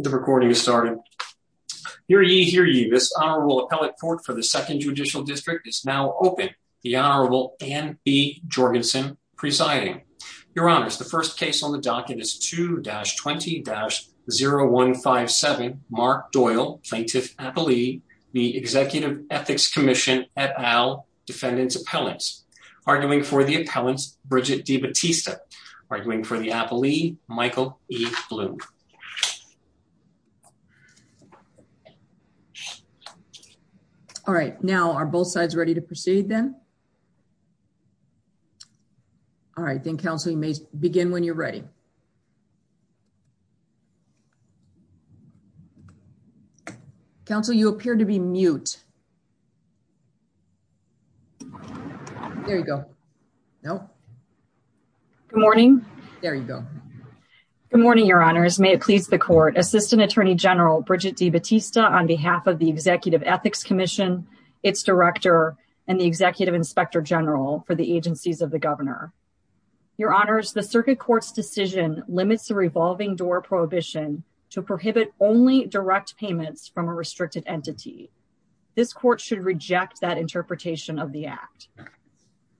The recording is started. Hear ye, hear ye. This Honorable Appellate Court for the Second Judicial District is now open. The Honorable Anne B. Jorgensen presiding. Your Honors, the first case on the docket is 2-20-0157 Mark Doyle, Plaintiff Appellee, the Executive Ethics Commission et al. Defendant's Appellant. Arguing for the Appellant, Bridget D. Batista. Arguing for the Appellee, Michael E. Bloom. All right, now are both sides ready to proceed then? All right, then Council, you may begin when you're ready. Council, you appear to be mute. There you go. No. Good morning. There you go. Good morning, Your Honors. May it please the Court, Assistant Attorney General Bridget D. Batista, on behalf of the Executive Ethics Commission, its Director, and the Executive Inspector General for the agencies of the Governor. Your Honors, the Circuit Court's decision limits the revolving door prohibition to prohibit only direct payments from a restricted entity. This Court should reject that interpretation of the Act.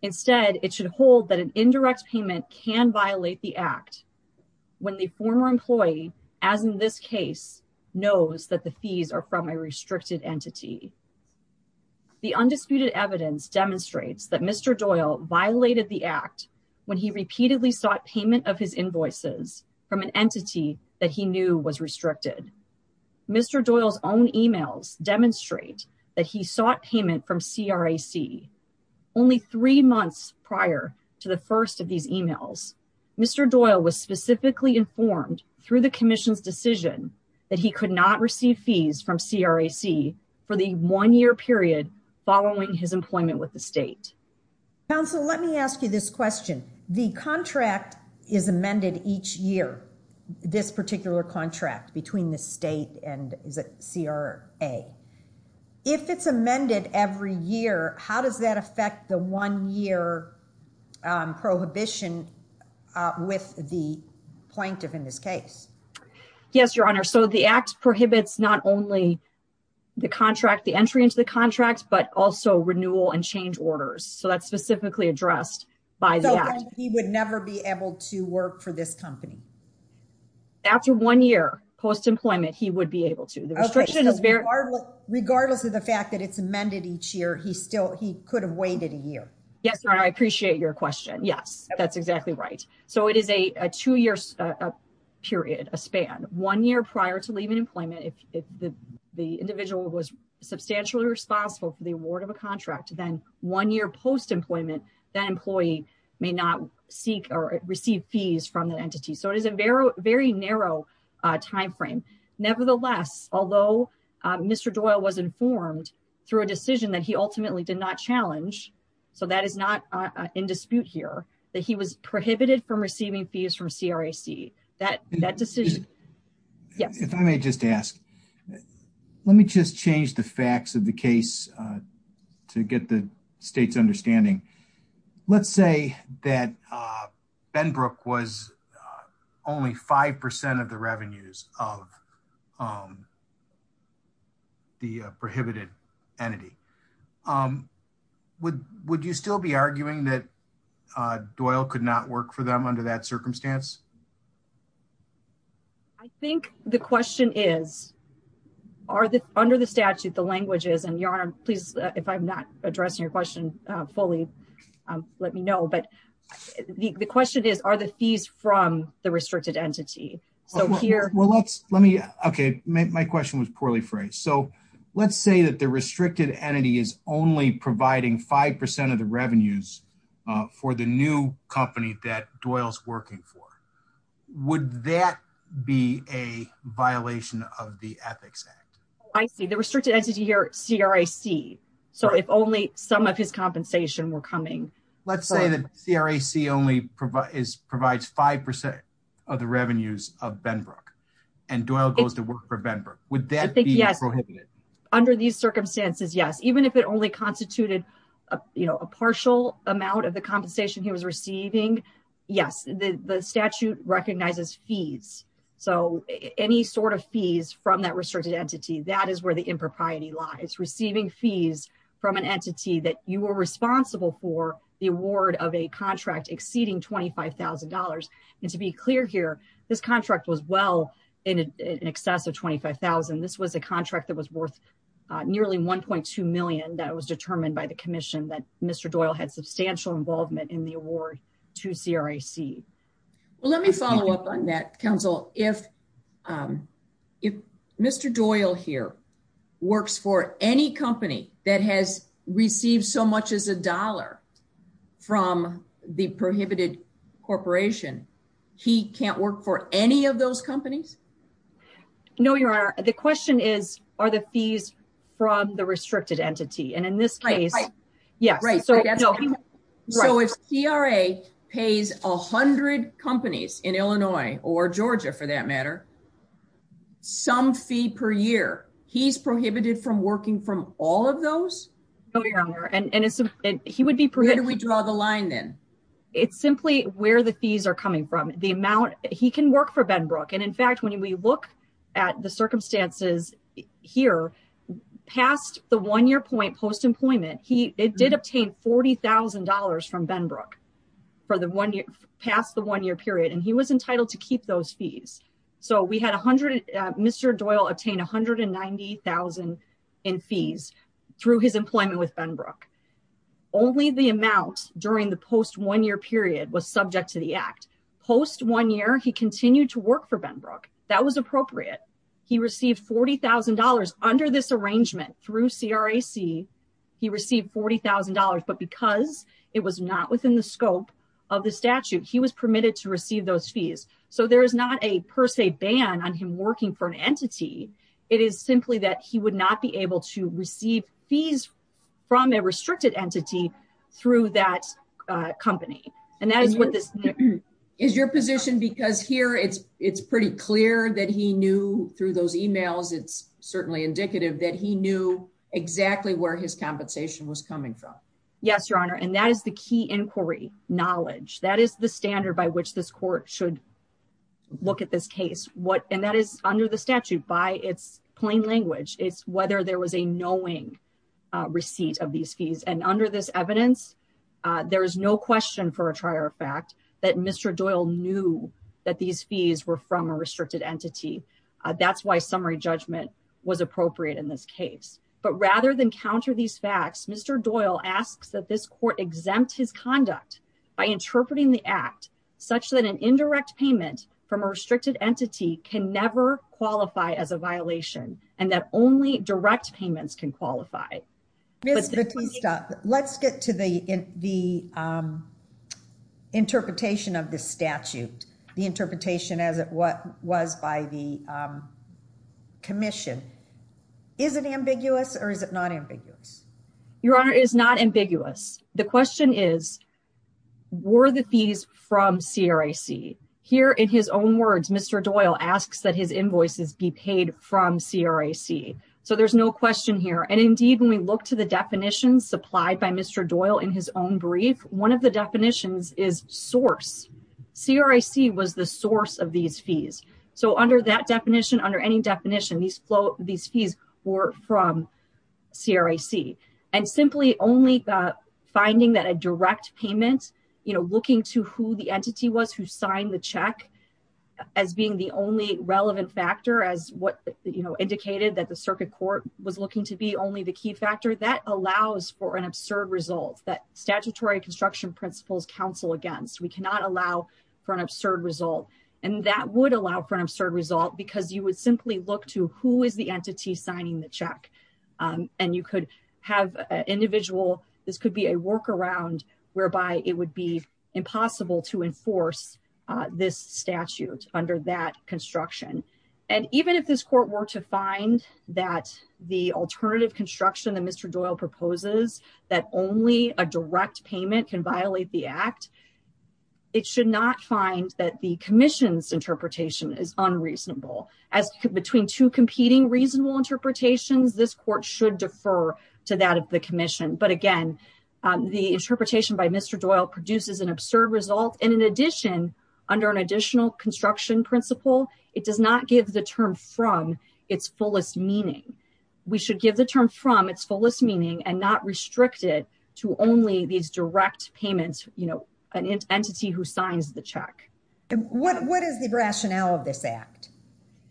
Instead, it should hold that an indirect payment can violate the Act when the former employee, as in this case, knows that the fees are from a restricted entity. The undisputed evidence demonstrates that Mr. Doyle violated the Act when he repeatedly sought payment of his invoices from an entity that he knew was restricted. Mr. Doyle's own emails demonstrate that he sought payment from CRAC only three months prior to the first of these emails. Mr. Doyle was specifically informed through the Commission's decision that he could not receive fees from CRAC for the one-year period following his employment with the State. Counsel, let me ask you this question. The contract is amended each year, this particular contract between the State and CRA. If it's amended every year, how does that affect the one-year prohibition with the plaintiff in this case? Yes, Your Honor, so the Act prohibits not only the contract, the entry into the contract, but also renewal and change orders. So that's specifically addressed by the Act. He would never be able to work for this company? After one year post-employment, he would be able to. The restriction is very... Regardless of the fact that it's amended each year, he could have waited a year. Yes, Your Honor, I appreciate your question. Yes, that's exactly right. So it is a two-year period, a span. One year prior to leaving employment, if the individual was substantially responsible for the award of a contract, then one year post-employment, that employee may not seek or receive fees from the entity. So it is a very narrow time frame. Nevertheless, although Mr. Doyle was informed through a decision that he ultimately did not challenge, so that is not in dispute here, that he was prohibited from receiving fees from CRAC. That decision... Yes. If I may just ask, let me just change the facts of the case to get the state's understanding. Let's say that Benbrook was only 5% of the revenues of the prohibited entity. Would you still be arguing that Doyle could not work for them under that circumstance? I think the question is, under the statute, the language is, and Your Honor, please, if I'm not addressing your question fully, let me know. But the question is, are the fees from the restricted entity? So here... Well, let's... Let me... Okay. My question was poorly phrased. So let's say that the restricted entity is only providing 5% of the revenues for the new company that Doyle's working for. Would that be a violation of the Ethics Act? Oh, I see. The restricted entity here, CRAC. So if only some of his compensation were coming... Let's say that CRAC only provides 5% of the revenues of Benbrook and Doyle goes to work for Benbrook. Would that be prohibited? I think, yes. Under these circumstances, yes. Even if it only constituted a partial amount of the compensation he was receiving, yes. The statute recognizes fees. So any sort of fees from that restricted entity, that is where the impropriety lies. Receiving fees from an entity that you were responsible for the award of a contract exceeding $25,000. And to be clear here, this contract was well in excess of 25,000. This was a contract that was worth nearly 1.2 million that was determined by commission that Mr. Doyle had substantial involvement in the award to CRAC. Well, let me follow up on that, counsel. If Mr. Doyle here works for any company that has received so much as a dollar from the prohibited corporation, he can't work for any of those companies? No, Your Honor. The question is, are the fees from the restricted entity? And in this case, yes. Right. So if CRA pays 100 companies in Illinois or Georgia for that matter, some fee per year, he's prohibited from working from all of those? No, Your Honor. And he would be prohibited. Where do we draw the line then? It's simply where the fees are coming from. The amount, he can work for Benbrook. And in fact, when we look at the circumstances here, past the one-year point post-employment, it did obtain $40,000 from Benbrook past the one-year period. And he was entitled to keep those fees. So Mr. Doyle obtained 190,000 in fees through his employment with Benbrook. Only the amount during the post one-year period was subject to the act. Post one year, he continued to work for Benbrook. That was appropriate. He received $40,000 under this arrangement through CRAC. He received $40,000, but because it was not within the scope of the statute, he was permitted to receive those fees. So there is not a per se ban on him working for an entity. It is simply that he would not be able to receive fees from a restricted entity through that company. And that is what this... Is your position because here it's pretty clear that he knew through those emails, it's certainly indicative that he knew exactly where his compensation was coming from. Yes, Your Honor. And that is the key inquiry knowledge. That is the standard by which this court should look at this case. And that is under the statute by its plain language. It's whether there was a knowing receipt of these fees. And under this evidence, there is no question for a trier fact that Mr. Doyle knew that these fees were from a restricted entity. That's why summary judgment was appropriate in this case. But rather than counter these facts, Mr. Doyle asks that this court exempt his conduct by interpreting the act such that an indirect payment from a restricted entity is exempted from the statute. And that is the only way in which direct payments can qualify. Ms. Batista, let's get to the interpretation of the statute, the interpretation as it was by the commission. Is it ambiguous or is it not ambiguous? Your Honor, it is not ambiguous. The question is, were the fees from CRAC? Here in his own words, Mr. Doyle asks that his invoices be paid from CRAC. So there's no question here. And indeed, when we look to the definitions supplied by Mr. Doyle in his own brief, one of the definitions is source. CRAC was the source of these fees. So under that definition, under any definition, these fees were from CRAC. And simply only the finding that a direct payment, you know, looking to who the entity was who signed the check as being the only relevant factor as what, you know, indicated that the circuit court was looking to be only the key factor, that allows for an absurd result that statutory construction principles counsel against. We cannot allow for an absurd result. And that would allow for an absurd result because you would simply look to who is the entity signing the check. And you could have an individual, this could be a workaround whereby it would be impossible to enforce this statute under that construction. And even if this court were to find that the alternative construction that Mr. Doyle proposes that only a direct payment can violate the act, it should not find that the commission's interpretation is unreasonable. As between two competing reasonable interpretations, this court should defer to that of the commission. But again, the interpretation by Mr. Doyle produces an absurd result. And in addition, under an additional construction principle, it does not give the term from its fullest meaning. We should give the term from its fullest meaning and not restrict it to only these direct payments, you know, an entity who signs the check. What is the rationale of this act?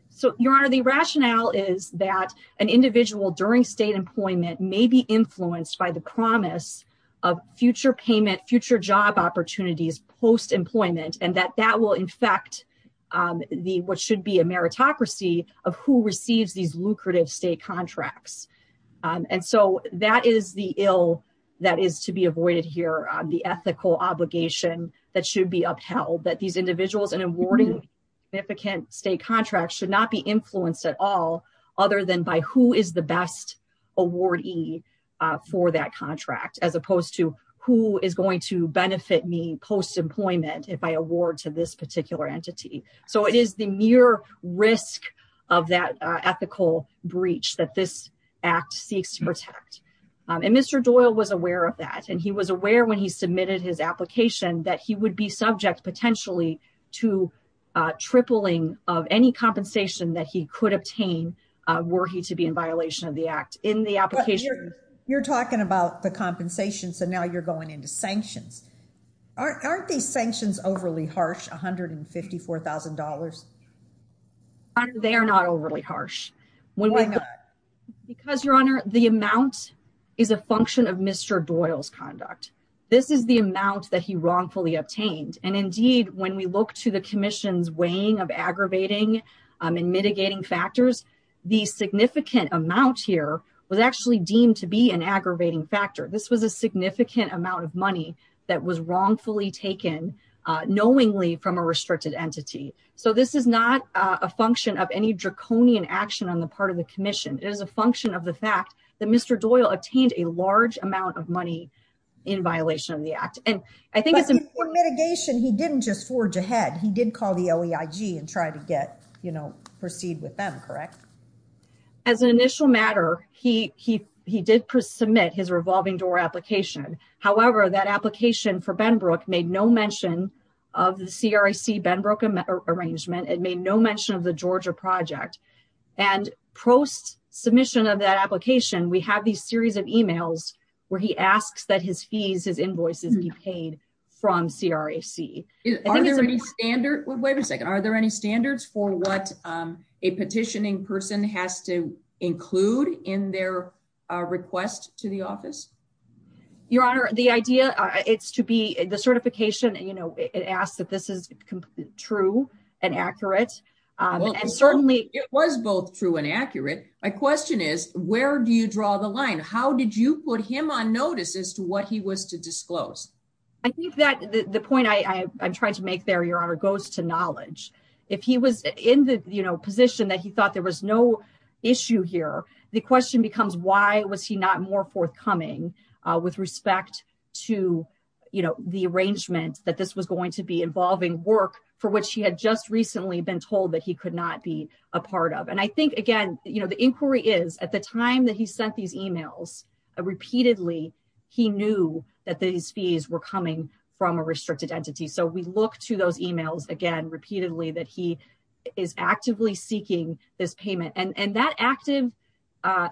So your honor, the rationale is that an individual during state employment may be influenced by the promise of future payment, future job opportunities, post employment, and that that will infect the what should be a meritocracy of who receives these lucrative state contracts. And so that is the ill that is to be avoided here on the ethical obligation that should be upheld that these individuals and awarding significant state contracts should not be influenced at all, other than by who is the best awardee for that contract as opposed to who is going to benefit me post employment if I award to this particular entity. So it is the mere risk of that ethical breach that this act seeks to protect. And Mr. Doyle was aware of that. And he was aware when he submitted his application that he would be subject potentially to tripling of any compensation that he could obtain were he to be in violation of the act in the application. You're talking about the compensation. So now you're going into sanctions. Aren't these sanctions overly harsh? $154,000. They are not overly harsh. Because your honor, the amount is a function of Mr. Doyle's conduct. This is the amount that he wrongfully obtained. And indeed, when we look to the commission's weighing of aggravating and mitigating factors, the significant amount here was actually deemed to be an aggravating factor. This was a significant amount of money that was wrongfully taken knowingly from a restricted entity. So this is not a function of any draconian action on the part of the commission. It is a function of the fact that Mr. Doyle obtained a large amount of money in violation of the act. And I think it's a mitigation. He didn't just forge ahead. He did call the OEIG and try to get, you know, proceed with them, correct? As an initial matter, he did submit his revolving door application. However, that application for Benbrook made no mention of the CRAC Benbrook arrangement. It made no mention of the Georgia project. And post submission of that application, we have these series of emails where he asks that his fees, his invoices be paid from CRAC. Are there any standards? Wait a second. Are there any standards for what a petitioning person has to include in their request to the office? Your Honor, the idea it's to be the certification and, you know, it asks that this is true and accurate. And certainly it was both true and accurate. My question is, where do you draw the line? How did you put him on notice as to what he was to disclose? I think that the point I'm trying to make there, Your Honor, goes to knowledge. If he was in the position that he issue here, the question becomes why was he not more forthcoming with respect to, you know, the arrangement that this was going to be involving work for which he had just recently been told that he could not be a part of. And I think, again, you know, the inquiry is at the time that he sent these emails, repeatedly, he knew that these fees were coming from a restricted entity. So we look to those emails again, repeatedly, that he is actively seeking this payment. And that active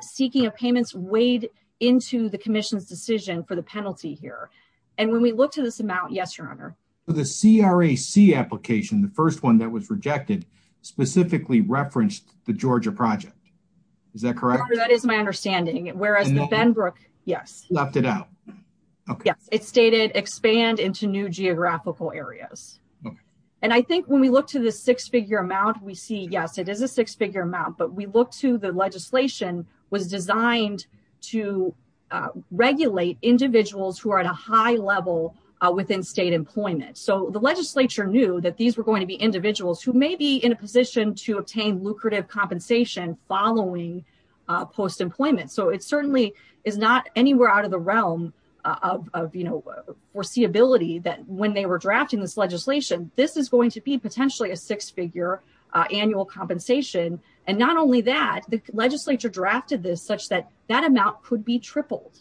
seeking of payments weighed into the commission's decision for the penalty here. And when we look to this amount, yes, Your Honor. The CRAC application, the first one that was rejected, specifically referenced the Georgia project. Is that correct? That is my understanding. Whereas the Benbrook, yes. Left it out. Okay. Yes. It stated expand into new geographical areas. And I think when we look to the six-figure amount, we see, yes, it is a six-figure amount, but we look to the legislation was designed to regulate individuals who are at a high level within state employment. So the legislature knew that these were going to be individuals who may in a position to obtain lucrative compensation following post-employment. So it certainly is not anywhere out of the realm of, you know, foreseeability that when they were drafting this legislation, this is going to be potentially a six-figure annual compensation. And not only that, the legislature drafted this such that that amount could be tripled.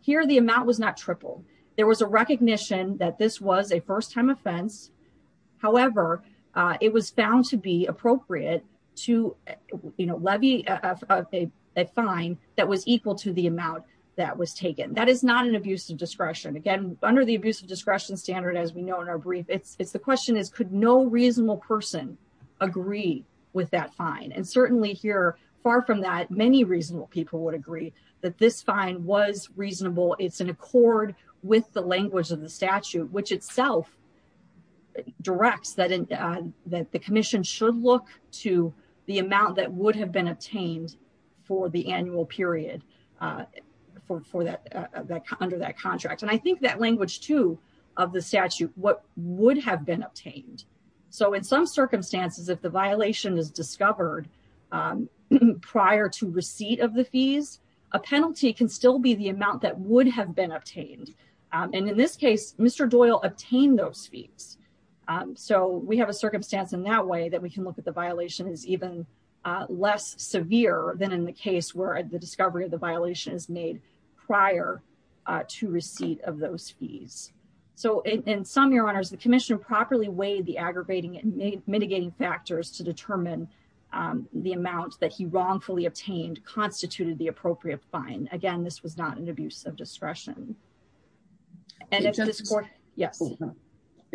Here, the amount was not to be appropriate to, you know, levy a fine that was equal to the amount that was taken. That is not an abuse of discretion. Again, under the abuse of discretion standard, as we know in our brief, it's the question is, could no reasonable person agree with that fine? And certainly here, far from that, many reasonable people would agree that this fine was reasonable. It's in accord with the language of the statute, which itself directs that the commission should look to the amount that would have been obtained for the annual period under that contract. And I think that language too of the statute, what would have been obtained. So in some circumstances, if the violation is discovered prior to receipt of the fees, a penalty can still be the amount that would have been obtained. And in this case, Mr. Doyle obtained those fees. So we have a circumstance in that way that we can look at the violation is even less severe than in the case where the discovery of the violation is made prior to receipt of those fees. So in some, your honors, the commission properly weighed the aggravating and mitigating factors to determine the amount that he wrongfully obtained constituted the appropriate fine. Again, this was not an abuse of discretion. And if this court, yes.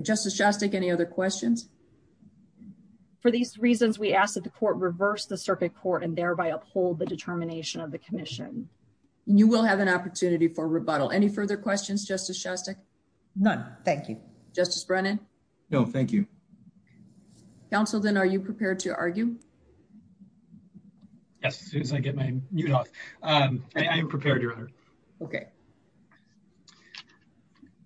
Justice Shostak, any other questions for these reasons? We ask that the court reverse the circuit court and thereby uphold the determination of the commission. You will have an opportunity for rebuttal. Any further questions, Justice Shostak? None. Thank you, Justice Brennan. No, thank you. Counsel, then are you prepared to Okay.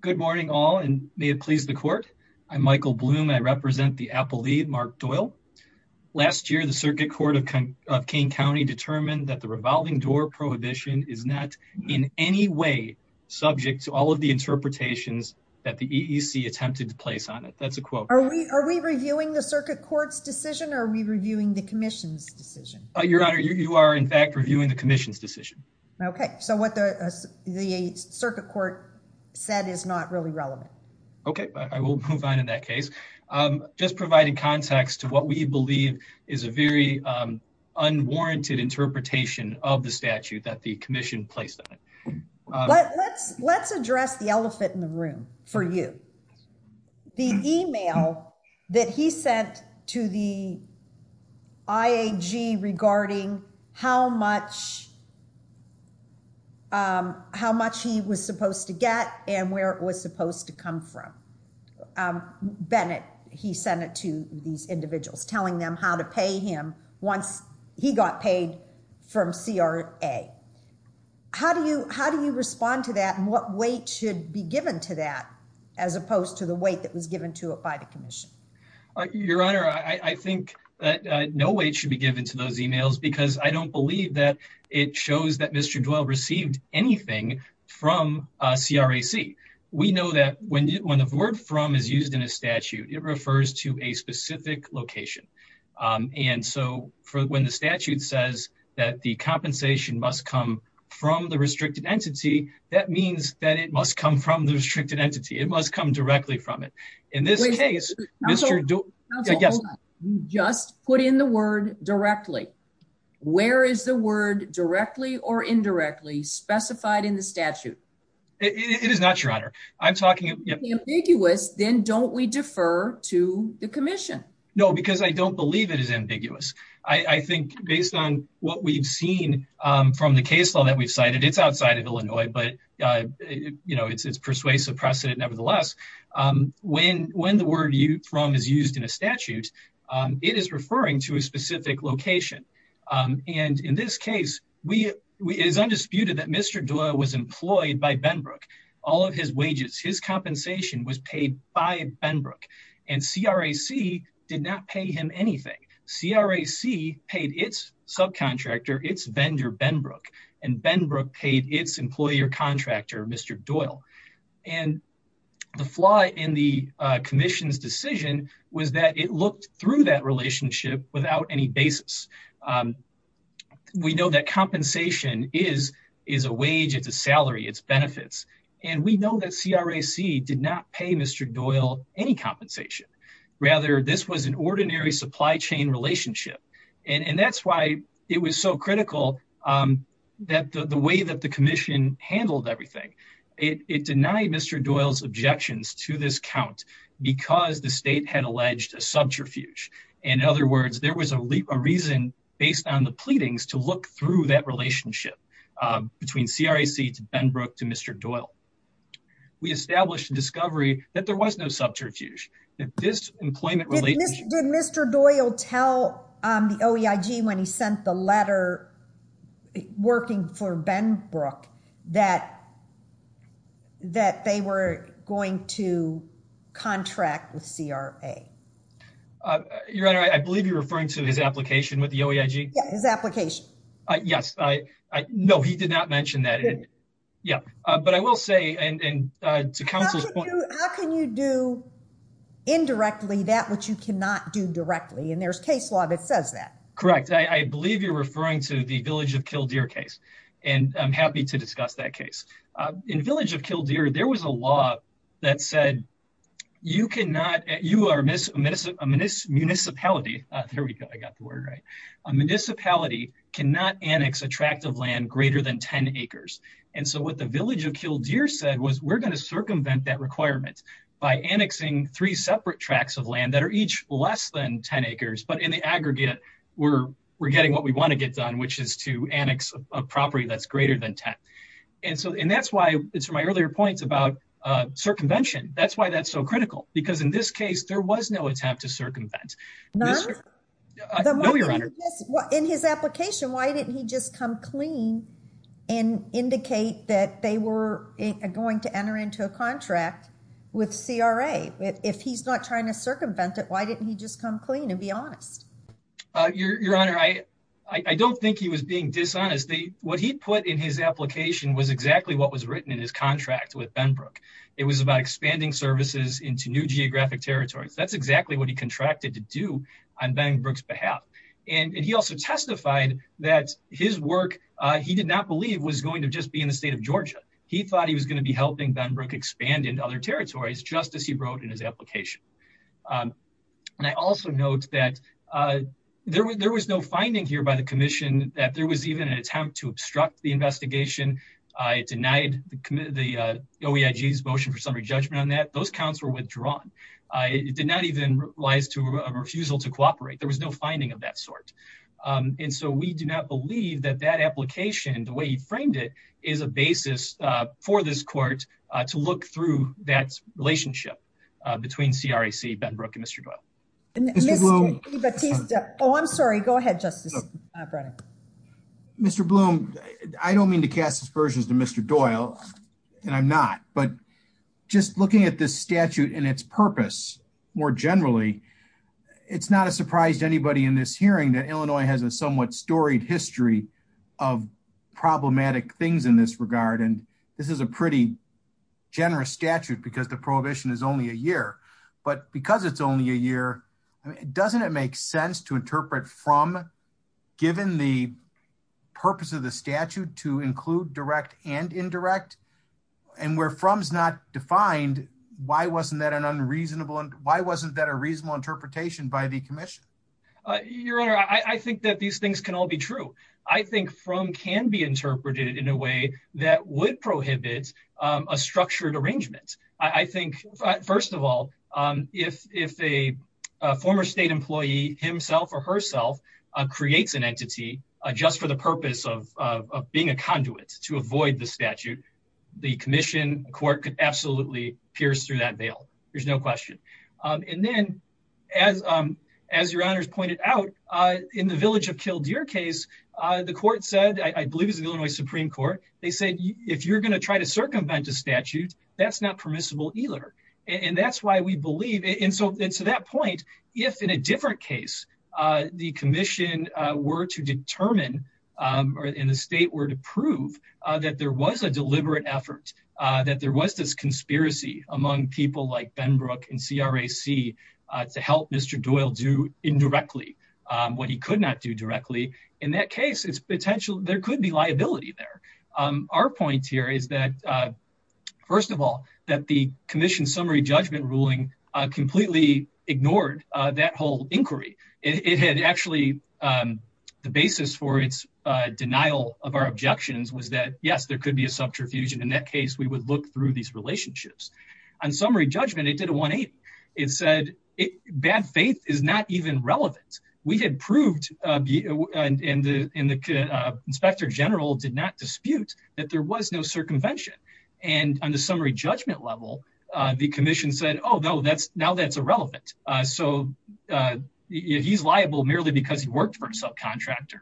Good morning, all. And may it please the court. I'm Michael Bloom. I represent the appellee, Mark Doyle. Last year, the circuit court of King County determined that the revolving door prohibition is not in any way subject to all of the interpretations that the EEC attempted to place on it. That's a quote. Are we are we reviewing the circuit court's decision or are we reviewing the commission's decision? Your honor, you are in fact reviewing the commission's decision. Okay, so what the circuit court said is not really relevant. Okay, I will move on in that case. Just providing context to what we believe is a very unwarranted interpretation of the statute that the commission placed on it. Let's address the elephant in the room for you. The email that he sent to the IAG regarding how much he was supposed to get and where it was supposed to come from. Bennett, he sent it to these individuals telling them how to pay him once he got paid from CRA. How do you respond to that? What weight should be given to that as opposed to the weight that was given to it by the commission? Your honor, I think that no weight should be given to those emails because I don't believe that it shows that Mr. Doyle received anything from CRAC. We know that when the word from is used in a statute, it refers to a specific location. When the statute says that the compensation must come from the restricted entity, that means that it must come from the restricted entity. It must come directly from it. In this case, just put in the word directly. Where is the word directly or indirectly specified in the statute? It is not, your honor. If it's ambiguous, then don't we defer to the commission? No, because I don't believe it is ambiguous. I think based on what we've seen from the case law that we've cited, it's outside of Illinois, but it's persuasive precedent nevertheless. When the word from is used in a statute, it is referring to a specific location. In this case, it is undisputed that Mr. Doyle was employed by Benbrook. All of his wages, his compensation was paid by Benbrook. CRAC did not pay him anything. CRAC paid its subcontractor, its vendor, Benbrook, and Benbrook paid its employer contractor, Mr. Doyle. The flaw in the commission's decision was that it looked through that relationship without any basis. We know that compensation is a wage, it's a salary, it's benefits. We know that CRAC did not pay Mr. Doyle any compensation. Rather, this was an ordinary supply chain relationship. That's why it was so critical that the way that the commission handled everything, it denied Mr. Doyle's objections to this count because the state had alleged a subterfuge. In other words, there was a reason based on the pleadings to look through that relationship between CRAC to Benbrook to Mr. Doyle. We established a discovery that there was no subterfuge. Did Mr. Doyle tell the OEIG when he sent the letter working for Benbrook that they were going to contract with CRA? Your Honor, I believe you're referring to his application with the OEIG? Yeah, his application. Yes. No, he did not mention that. But I will say, how can you do indirectly that which you cannot do directly? And there's case law that says that. Correct. I believe you're referring to the Village of Kildare case, and I'm happy to discuss that case. In Village of Kildare, there was a law that said you are a municipality, there we go, a municipality cannot annex a tract of land greater than 10 acres. And so what the Village of Kildare said was we're going to circumvent that requirement by annexing three separate tracts of land that are each less than 10 acres. But in the aggregate, we're getting what we want to get done, which is to annex a property that's greater than 10. And so and that's why it's my earlier points about circumvention. That's why that's so critical. Because in this case, there was no attempt to circumvent. None? No, Your Honor. In his application, why didn't he just come clean and indicate that they were going to enter into a contract with CRA? If he's not trying to circumvent it, why didn't he just come clean and be honest? Your Honor, I don't think he was being dishonest. What he put in his application was exactly what was written in his contract with CRA. That's exactly what he contracted to do on Benbrook's behalf. And he also testified that his work, he did not believe was going to just be in the state of Georgia. He thought he was going to be helping Benbrook expand into other territories, just as he wrote in his application. And I also note that there was no finding here by the commission that there was even an attempt to obstruct the investigation. It denied the OEIG's motion for summary judgment on that. Those counts were withdrawn. It did not even rise to a refusal to cooperate. There was no finding of that sort. And so we do not believe that that application, the way he framed it, is a basis for this court to look through that relationship between CRAC, Benbrook, and Mr. Doyle. Mr. Bloom. Oh, I'm sorry. Go ahead, Justice Brennan. Mr. Bloom, I don't mean to cast aspersions to Mr. Doyle, and I'm not. But just looking at this statute and its purpose, more generally, it's not a surprise to anybody in this hearing that Illinois has a somewhat storied history of problematic things in this regard. And this is a pretty generous statute because the prohibition is only a year. But because it's only a year, doesn't it make sense to interpret from given the purpose of the statute to find why wasn't that a reasonable interpretation by the commission? Your Honor, I think that these things can all be true. I think from can be interpreted in a way that would prohibit a structured arrangement. I think, first of all, if a former state employee himself or herself creates an entity just for the purpose of being a conduit to avoid the statute, the commission court could absolutely pierce through that veil. There's no question. And then, as Your Honor's pointed out, in the Village of Kildare case, the court said, I believe it was the Illinois Supreme Court, they said, if you're going to try to circumvent a statute, that's not permissible either. And that's why we believe. And so to that point, if in a different case, the commission were to determine or in the state were to prove that there was a deliberate effort, that there was this conspiracy among people like Benbrook and CRAC to help Mr. Doyle do indirectly what he could not do directly, in that case, it's potential, there could be liability there. Our point here is that, first of all, that the commission summary judgment ruling completely ignored that whole inquiry. It had actually, the basis for its denial of our objections was that, yes, there could be a subterfuge. And in that case, we would look through these relationships. On summary judgment, it did a 180. It said, bad faith is not even relevant. We had proved, and the inspector general did not dispute that there was no circumvention. And on the summary judgment level, the commission said, oh no, now that's irrelevant. So he's liable merely because he worked for a subcontractor.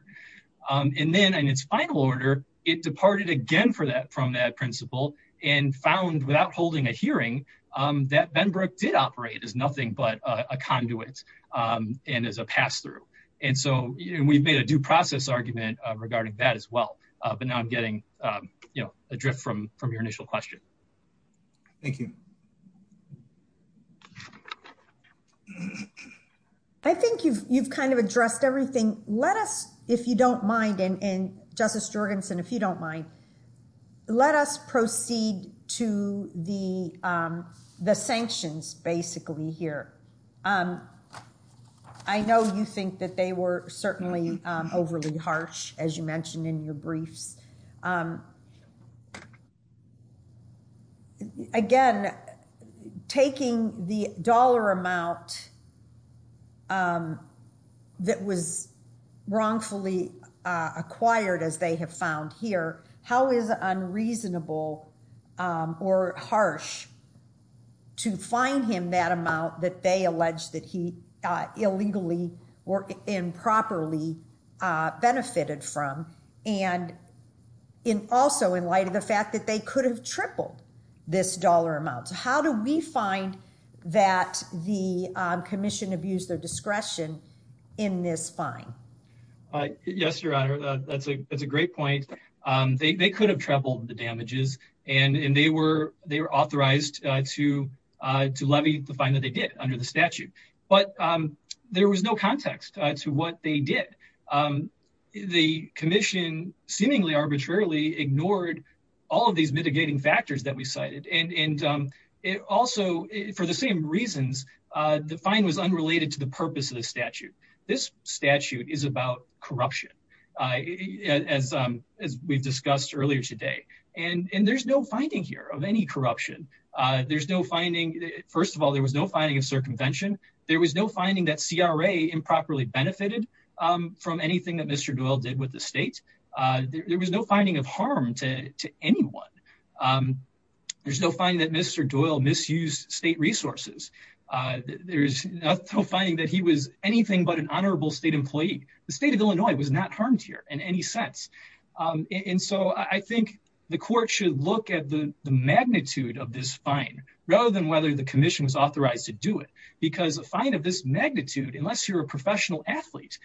And then in its final order, it departed again from that principle and found without holding a hearing that Benbrook did operate as nothing but a conduit and as a pass-through. And so we've made a due process argument regarding that as well. But now I'm getting a drift from your initial question. Thank you. I think you've kind of addressed everything. Let us, if you don't mind, and Justice Jorgensen, if you don't mind, let us proceed to the sanctions, basically, here. I know you think that they were certainly overly harsh, as you mentioned in your briefs. Again, taking the dollar amount that was wrongfully acquired, as they have found here, how is it unreasonable or harsh to fine him that amount that they allege that he illegally or improperly benefited from? And also in light of the fact that they could have tripled this dollar amount. How do we find that the commission abused their discretion in this fine? All right. Yes, Your Honor. That's a great point. They could have tripled the damages and they were authorized to levy the fine that they did under the statute. But there was no context to what they did. The commission seemingly arbitrarily ignored all of these mitigating factors that we cited. And it also, for the same reasons, the fine was unrelated to the purpose of statute. This statute is about corruption, as we've discussed earlier today. And there's no finding here of any corruption. There's no finding. First of all, there was no finding of circumvention. There was no finding that CRA improperly benefited from anything that Mr. Doyle did with the state. There was no finding of harm to anyone. There's no finding that Mr. Doyle misused state resources. There's no finding that he was anything but an honorable state employee. The state of Illinois was not harmed here in any sense. And so I think the court should look at the magnitude of this fine rather than whether the commission was authorized to do it. Because a fine of this magnitude, unless you're a professional athlete,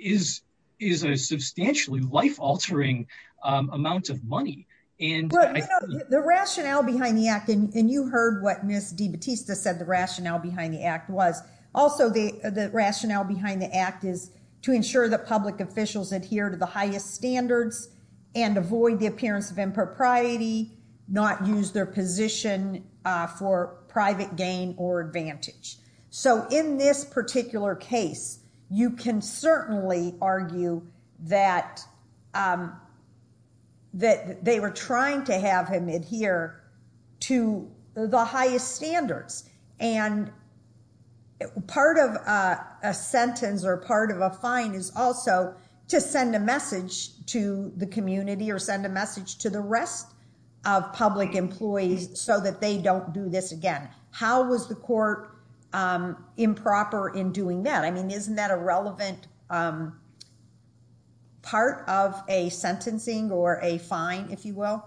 is a substantially life-altering amount of money. The rationale behind the act, and you heard what Ms. DiBattista said the rationale behind the act was, also the rationale behind the act is to ensure that public officials adhere to the highest standards and avoid the appearance of impropriety, not use their position for private gain or advantage. So in this particular case, you can certainly argue that they were trying to have him adhere to the highest standards. And part of a sentence or part of a fine is also to send a message to the community or send a message to the rest of public employees so that they don't do this again. How was the court improper in doing that? Isn't that a relevant part of a sentencing or a fine, if you will?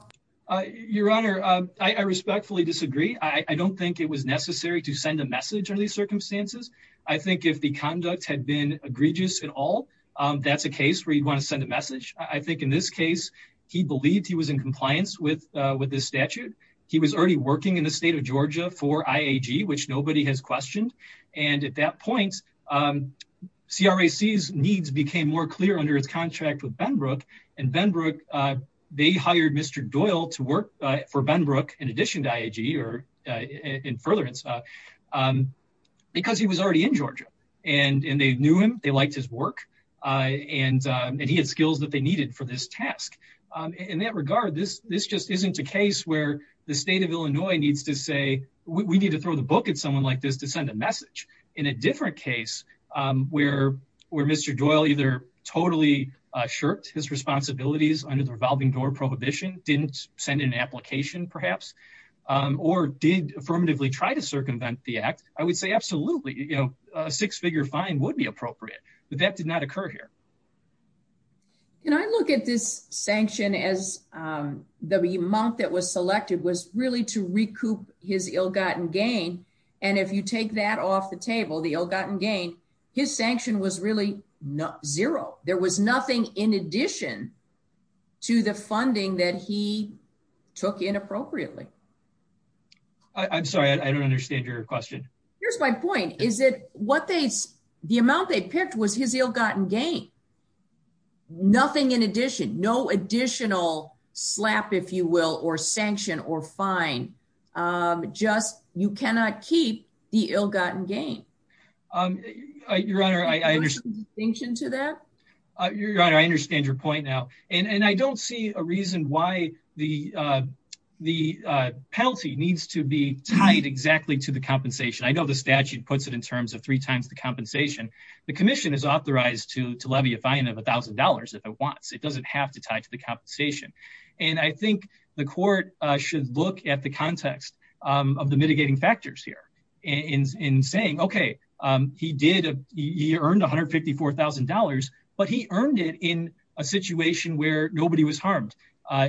Your Honor, I respectfully disagree. I don't think it was necessary to send a message under these circumstances. I think if the conduct had been egregious at all, that's a case where you want to send a message. I think in this case, he believed he was in compliance with this statute. He was already working in the state of Georgia for IAG, which nobody has questioned. And at that point, CRAC's needs became more clear under its contract with Benbrook. And Benbrook, they hired Mr. Doyle to work for Benbrook in addition to IAG or in furtherance because he was already in Georgia. And they knew him. They liked his work. And he had skills that they needed for this task. In that regard, this just isn't a case where the state of Illinois needs to say, we need to throw the book at someone like this to send a message. In a different case, where Mr. Doyle either totally shirked his responsibilities under the revolving door prohibition, didn't send an application perhaps, or did affirmatively try to circumvent the act, I would say absolutely, a six-figure fine would be appropriate. But that did not occur here. Can I look at this sanction as the amount that was selected was really to recoup his ill-gotten gain? And if you take that off the table, the ill-gotten gain, his sanction was really zero. There was nothing in addition to the funding that he took inappropriately. I'm sorry, I don't understand your question. Here's my point. The amount they picked was his ill-gotten gain. Nothing in addition, no additional slap, if you will, or sanction or fine. Just you cannot keep the ill-gotten gain. Your Honor, I understand your point now. And I don't see a reason why the penalty needs to be tied exactly to the compensation. I know the statute puts it in terms of three times the compensation. The commission is authorized to levy a fine of $1,000 if it wants. It doesn't have to tie to the compensation. And I think the court should look at the context of the mitigating factors here in saying, okay, he earned $154,000, but he earned it in a situation where nobody was harmed.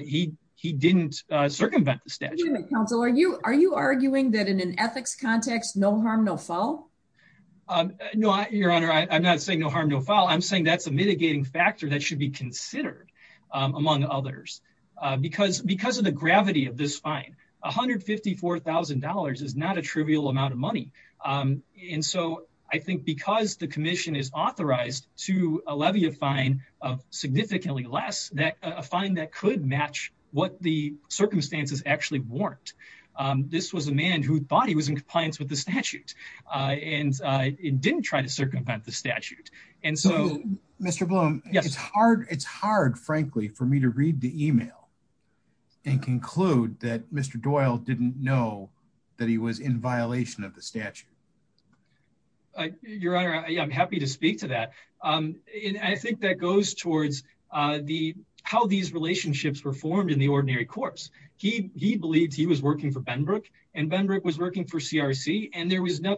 He didn't circumvent the statute. Are you arguing that in an ethics context, no harm, no foul? No, Your Honor, I'm not saying no harm, no foul. I'm saying that's a mitigating factor that should be considered among others. Because of the gravity of this fine, $154,000 is not a trivial amount of money. And so I think because the commission is authorized to levy a fine of significantly less, a fine that could match what the circumstances actually weren't. This was a man who thought he was in compliance with the statute and didn't try to circumvent the statute. Mr. Bloom, it's hard, frankly, for me to read the email and conclude that Mr. Doyle didn't know that he was in violation of the statute. Your Honor, I'm happy to speak to that. I think that goes towards how these relationships were formed in the ordinary course. He believed he was working for Benbrook, and Benbrook was working for CRC. And there was no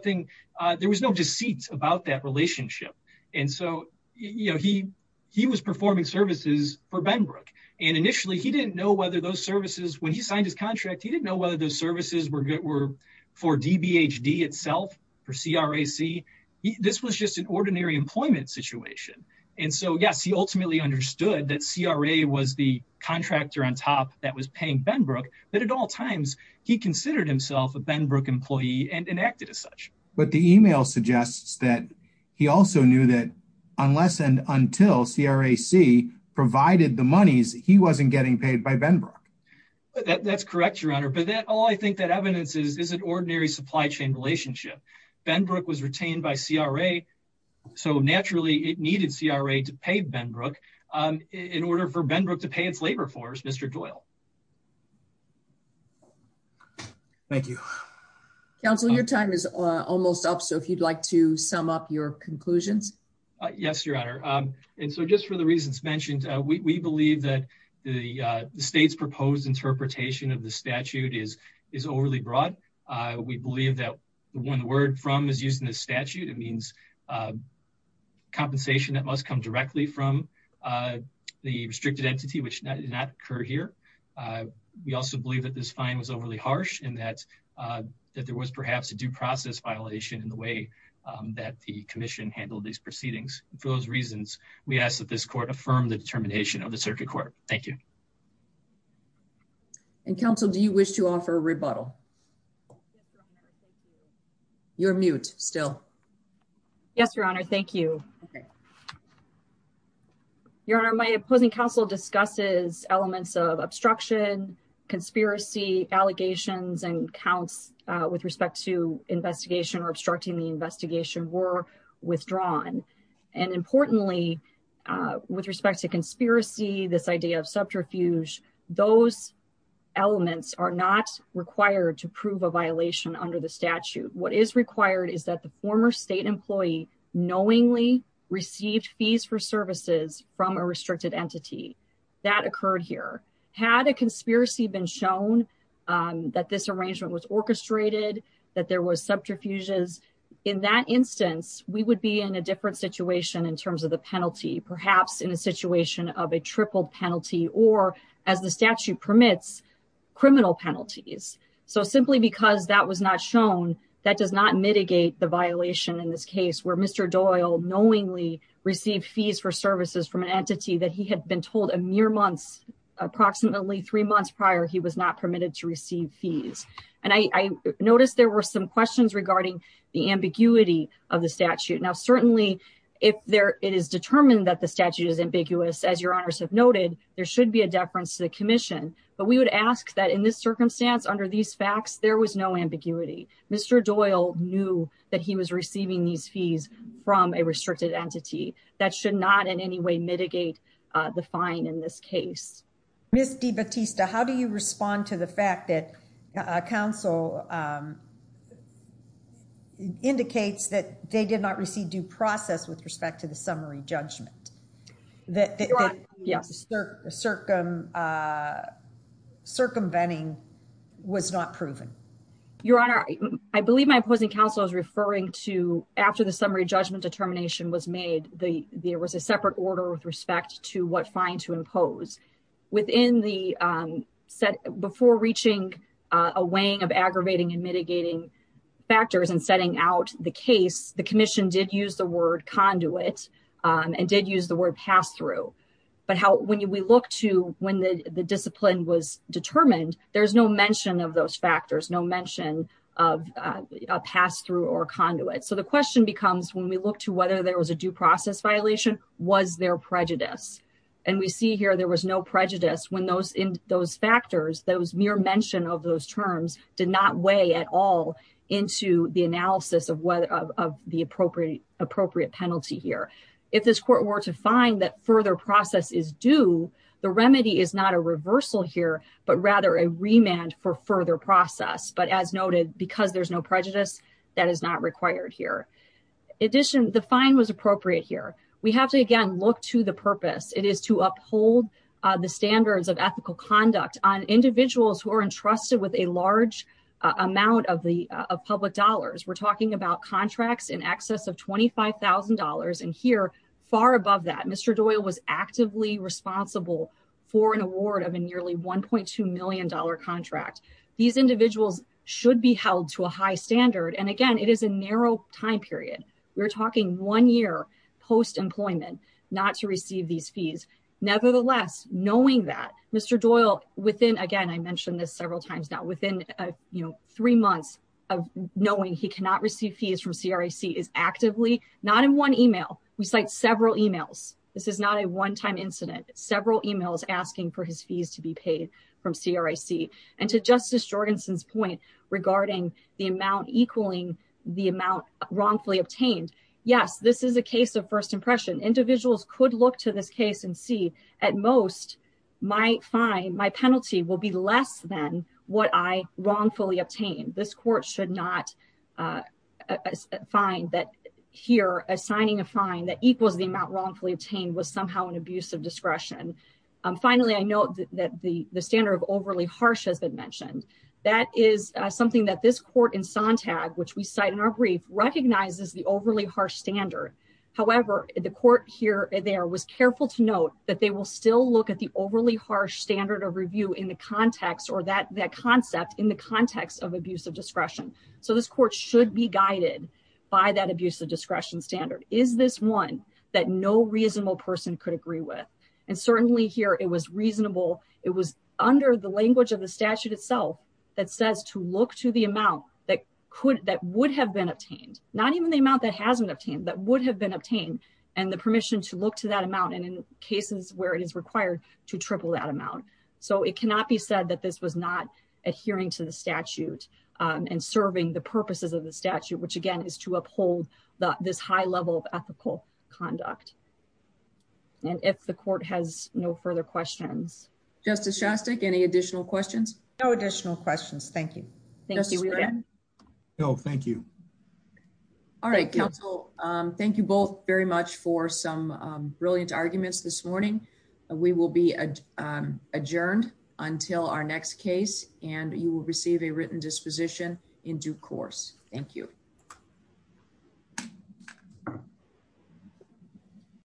deceit about that relationship. And so he was performing services for Benbrook. And initially, he didn't know whether those services, when he signed his contract, he didn't know whether those services were for DBHD itself, for CRAC. This was just an ordinary employment situation. And so yes, he ultimately understood that CRA was the contractor on top that was paying Benbrook. But at all times, he considered himself a Benbrook employee and enacted as such. But the email suggests that he also knew that unless and until CRAC provided the monies, he wasn't getting paid by Benbrook. That's correct, Your Honor. But that all I think that evidence is an ordinary supply chain relationship. Benbrook was retained by CRA. So naturally, it needed CRA to pay Benbrook in order for Benbrook to pay its labor force, Mr. Doyle. Thank you. Counsel, your time is almost up. So if you'd like to sum up your conclusions. Yes, Your Honor. And so just for the reasons mentioned, we believe that the state's proposed interpretation of the statute is overly broad. We believe that the one word from is used in the statute. It means compensation that must come directly from the restricted entity, which did not occur here. We also believe that this fine was overly harsh and that there was perhaps a due process violation in the way that the commission handled these proceedings. And for those reasons, we ask that this court affirm the determination of the circuit court. Thank you. And counsel, do you wish to offer a rebuttal? You're mute still. Yes, Your Honor. Thank you. Your Honor, my opposing counsel discusses elements of obstruction, conspiracy, allegations and counts with respect to investigation or obstructing the investigation were withdrawn. And importantly, with respect to conspiracy, this idea of subterfuge, those elements are not required to prove a violation under the statute. What is required is that the former state employee knowingly received fees for services from a restricted entity that occurred here. Had a conspiracy been shown that this arrangement was orchestrated, that there was subterfuges. In that instance, we would be in a different situation in terms of the penalty, perhaps in a situation of a tripled penalty or as the statute permits, criminal penalties. So simply because that was not shown, that does not mitigate the violation in this case where Mr. Doyle knowingly received fees for services from an entity that he had been told a mere months, approximately three months prior, he was not permitted to receive fees. And I noticed there were some questions regarding the ambiguity of the statute. Now, certainly if there it is determined that the statute is ambiguous, as your honors have noted, there should be a deference to the commission. But we would ask that in this circumstance, under these facts, there was no ambiguity. Mr. Doyle knew that he was receiving these fees from a restricted entity that should not in any way mitigate the fine in this case. Miss DeBattista, how do you respond to the fact that council indicates that they did not receive due process with respect to the summary judgment? That circumventing was not proven? Your honor, I believe my opposing counsel is referring to after the summary judgment determination was made, there was a separate order with respect to what fine to impose. Before reaching a weighing of aggravating and mitigating factors and setting out the case, the commission did use the word conduit and did use the word pass-through. But when we look to when the discipline was determined, there's no mention of those factors, no mention of a pass-through or conduit. So the question becomes when we look to there was a due process violation, was there prejudice? And we see here there was no prejudice when those factors, those mere mention of those terms did not weigh at all into the analysis of the appropriate penalty here. If this court were to find that further process is due, the remedy is not a reversal here, but rather a remand for further process. But as noted, because there's no prejudice, that is not required here. In addition, the fine was appropriate here. We have to, again, look to the purpose. It is to uphold the standards of ethical conduct on individuals who are entrusted with a large amount of public dollars. We're talking about contracts in excess of $25,000. And here, far above that, Mr. Doyle was actively responsible for an award of a nearly $1.2 million contract. These individuals should be held to a high standard. And again, it is a narrow time period. We're talking one year post-employment not to receive these fees. Nevertheless, knowing that Mr. Doyle within, again, I mentioned this several times now, within three months of knowing he cannot receive fees from CRAC is actively, not in one email. We cite several emails. This is not a one-time incident. Several emails asking for his fees to be paid from CRAC. And to Justice Jorgensen's point regarding the amount equaling the amount wrongfully obtained, yes, this is a case of first impression. Individuals could look to this case and see, at most, my fine, my penalty will be less than what I wrongfully obtained. This court should not find that here, assigning a fine that equals the amount wrongfully obtained was somehow an abuse of discretion. Finally, I note that the standard of overly harsh has been mentioned. That is something that this court in Sontag, which we cite in our brief, recognizes the overly harsh standard. However, the court here and there was careful to note that they will still look at the overly harsh standard of review in the context or that concept in the context of abuse of discretion. So this court should be guided by that abuse of discretion standard. Is this one that no reasonable person could agree with? And certainly here, it was reasonable. It was under the language of the statute itself that says to look to the amount that would have been obtained, not even the amount that hasn't obtained, that would have been obtained and the permission to look to that amount and in cases where it is required to triple that amount. So it cannot be said that this was not adhering to the statute and serving the purposes of the statute, which again is to uphold this high level of ethical conduct. And if the court has no further questions. Justice Shostak, any additional questions? No additional questions. Thank you. Thank you. No, thank you. All right, counsel. Thank you both very much for some adjourned until our next case and you will receive a written disposition in due course. Thank you.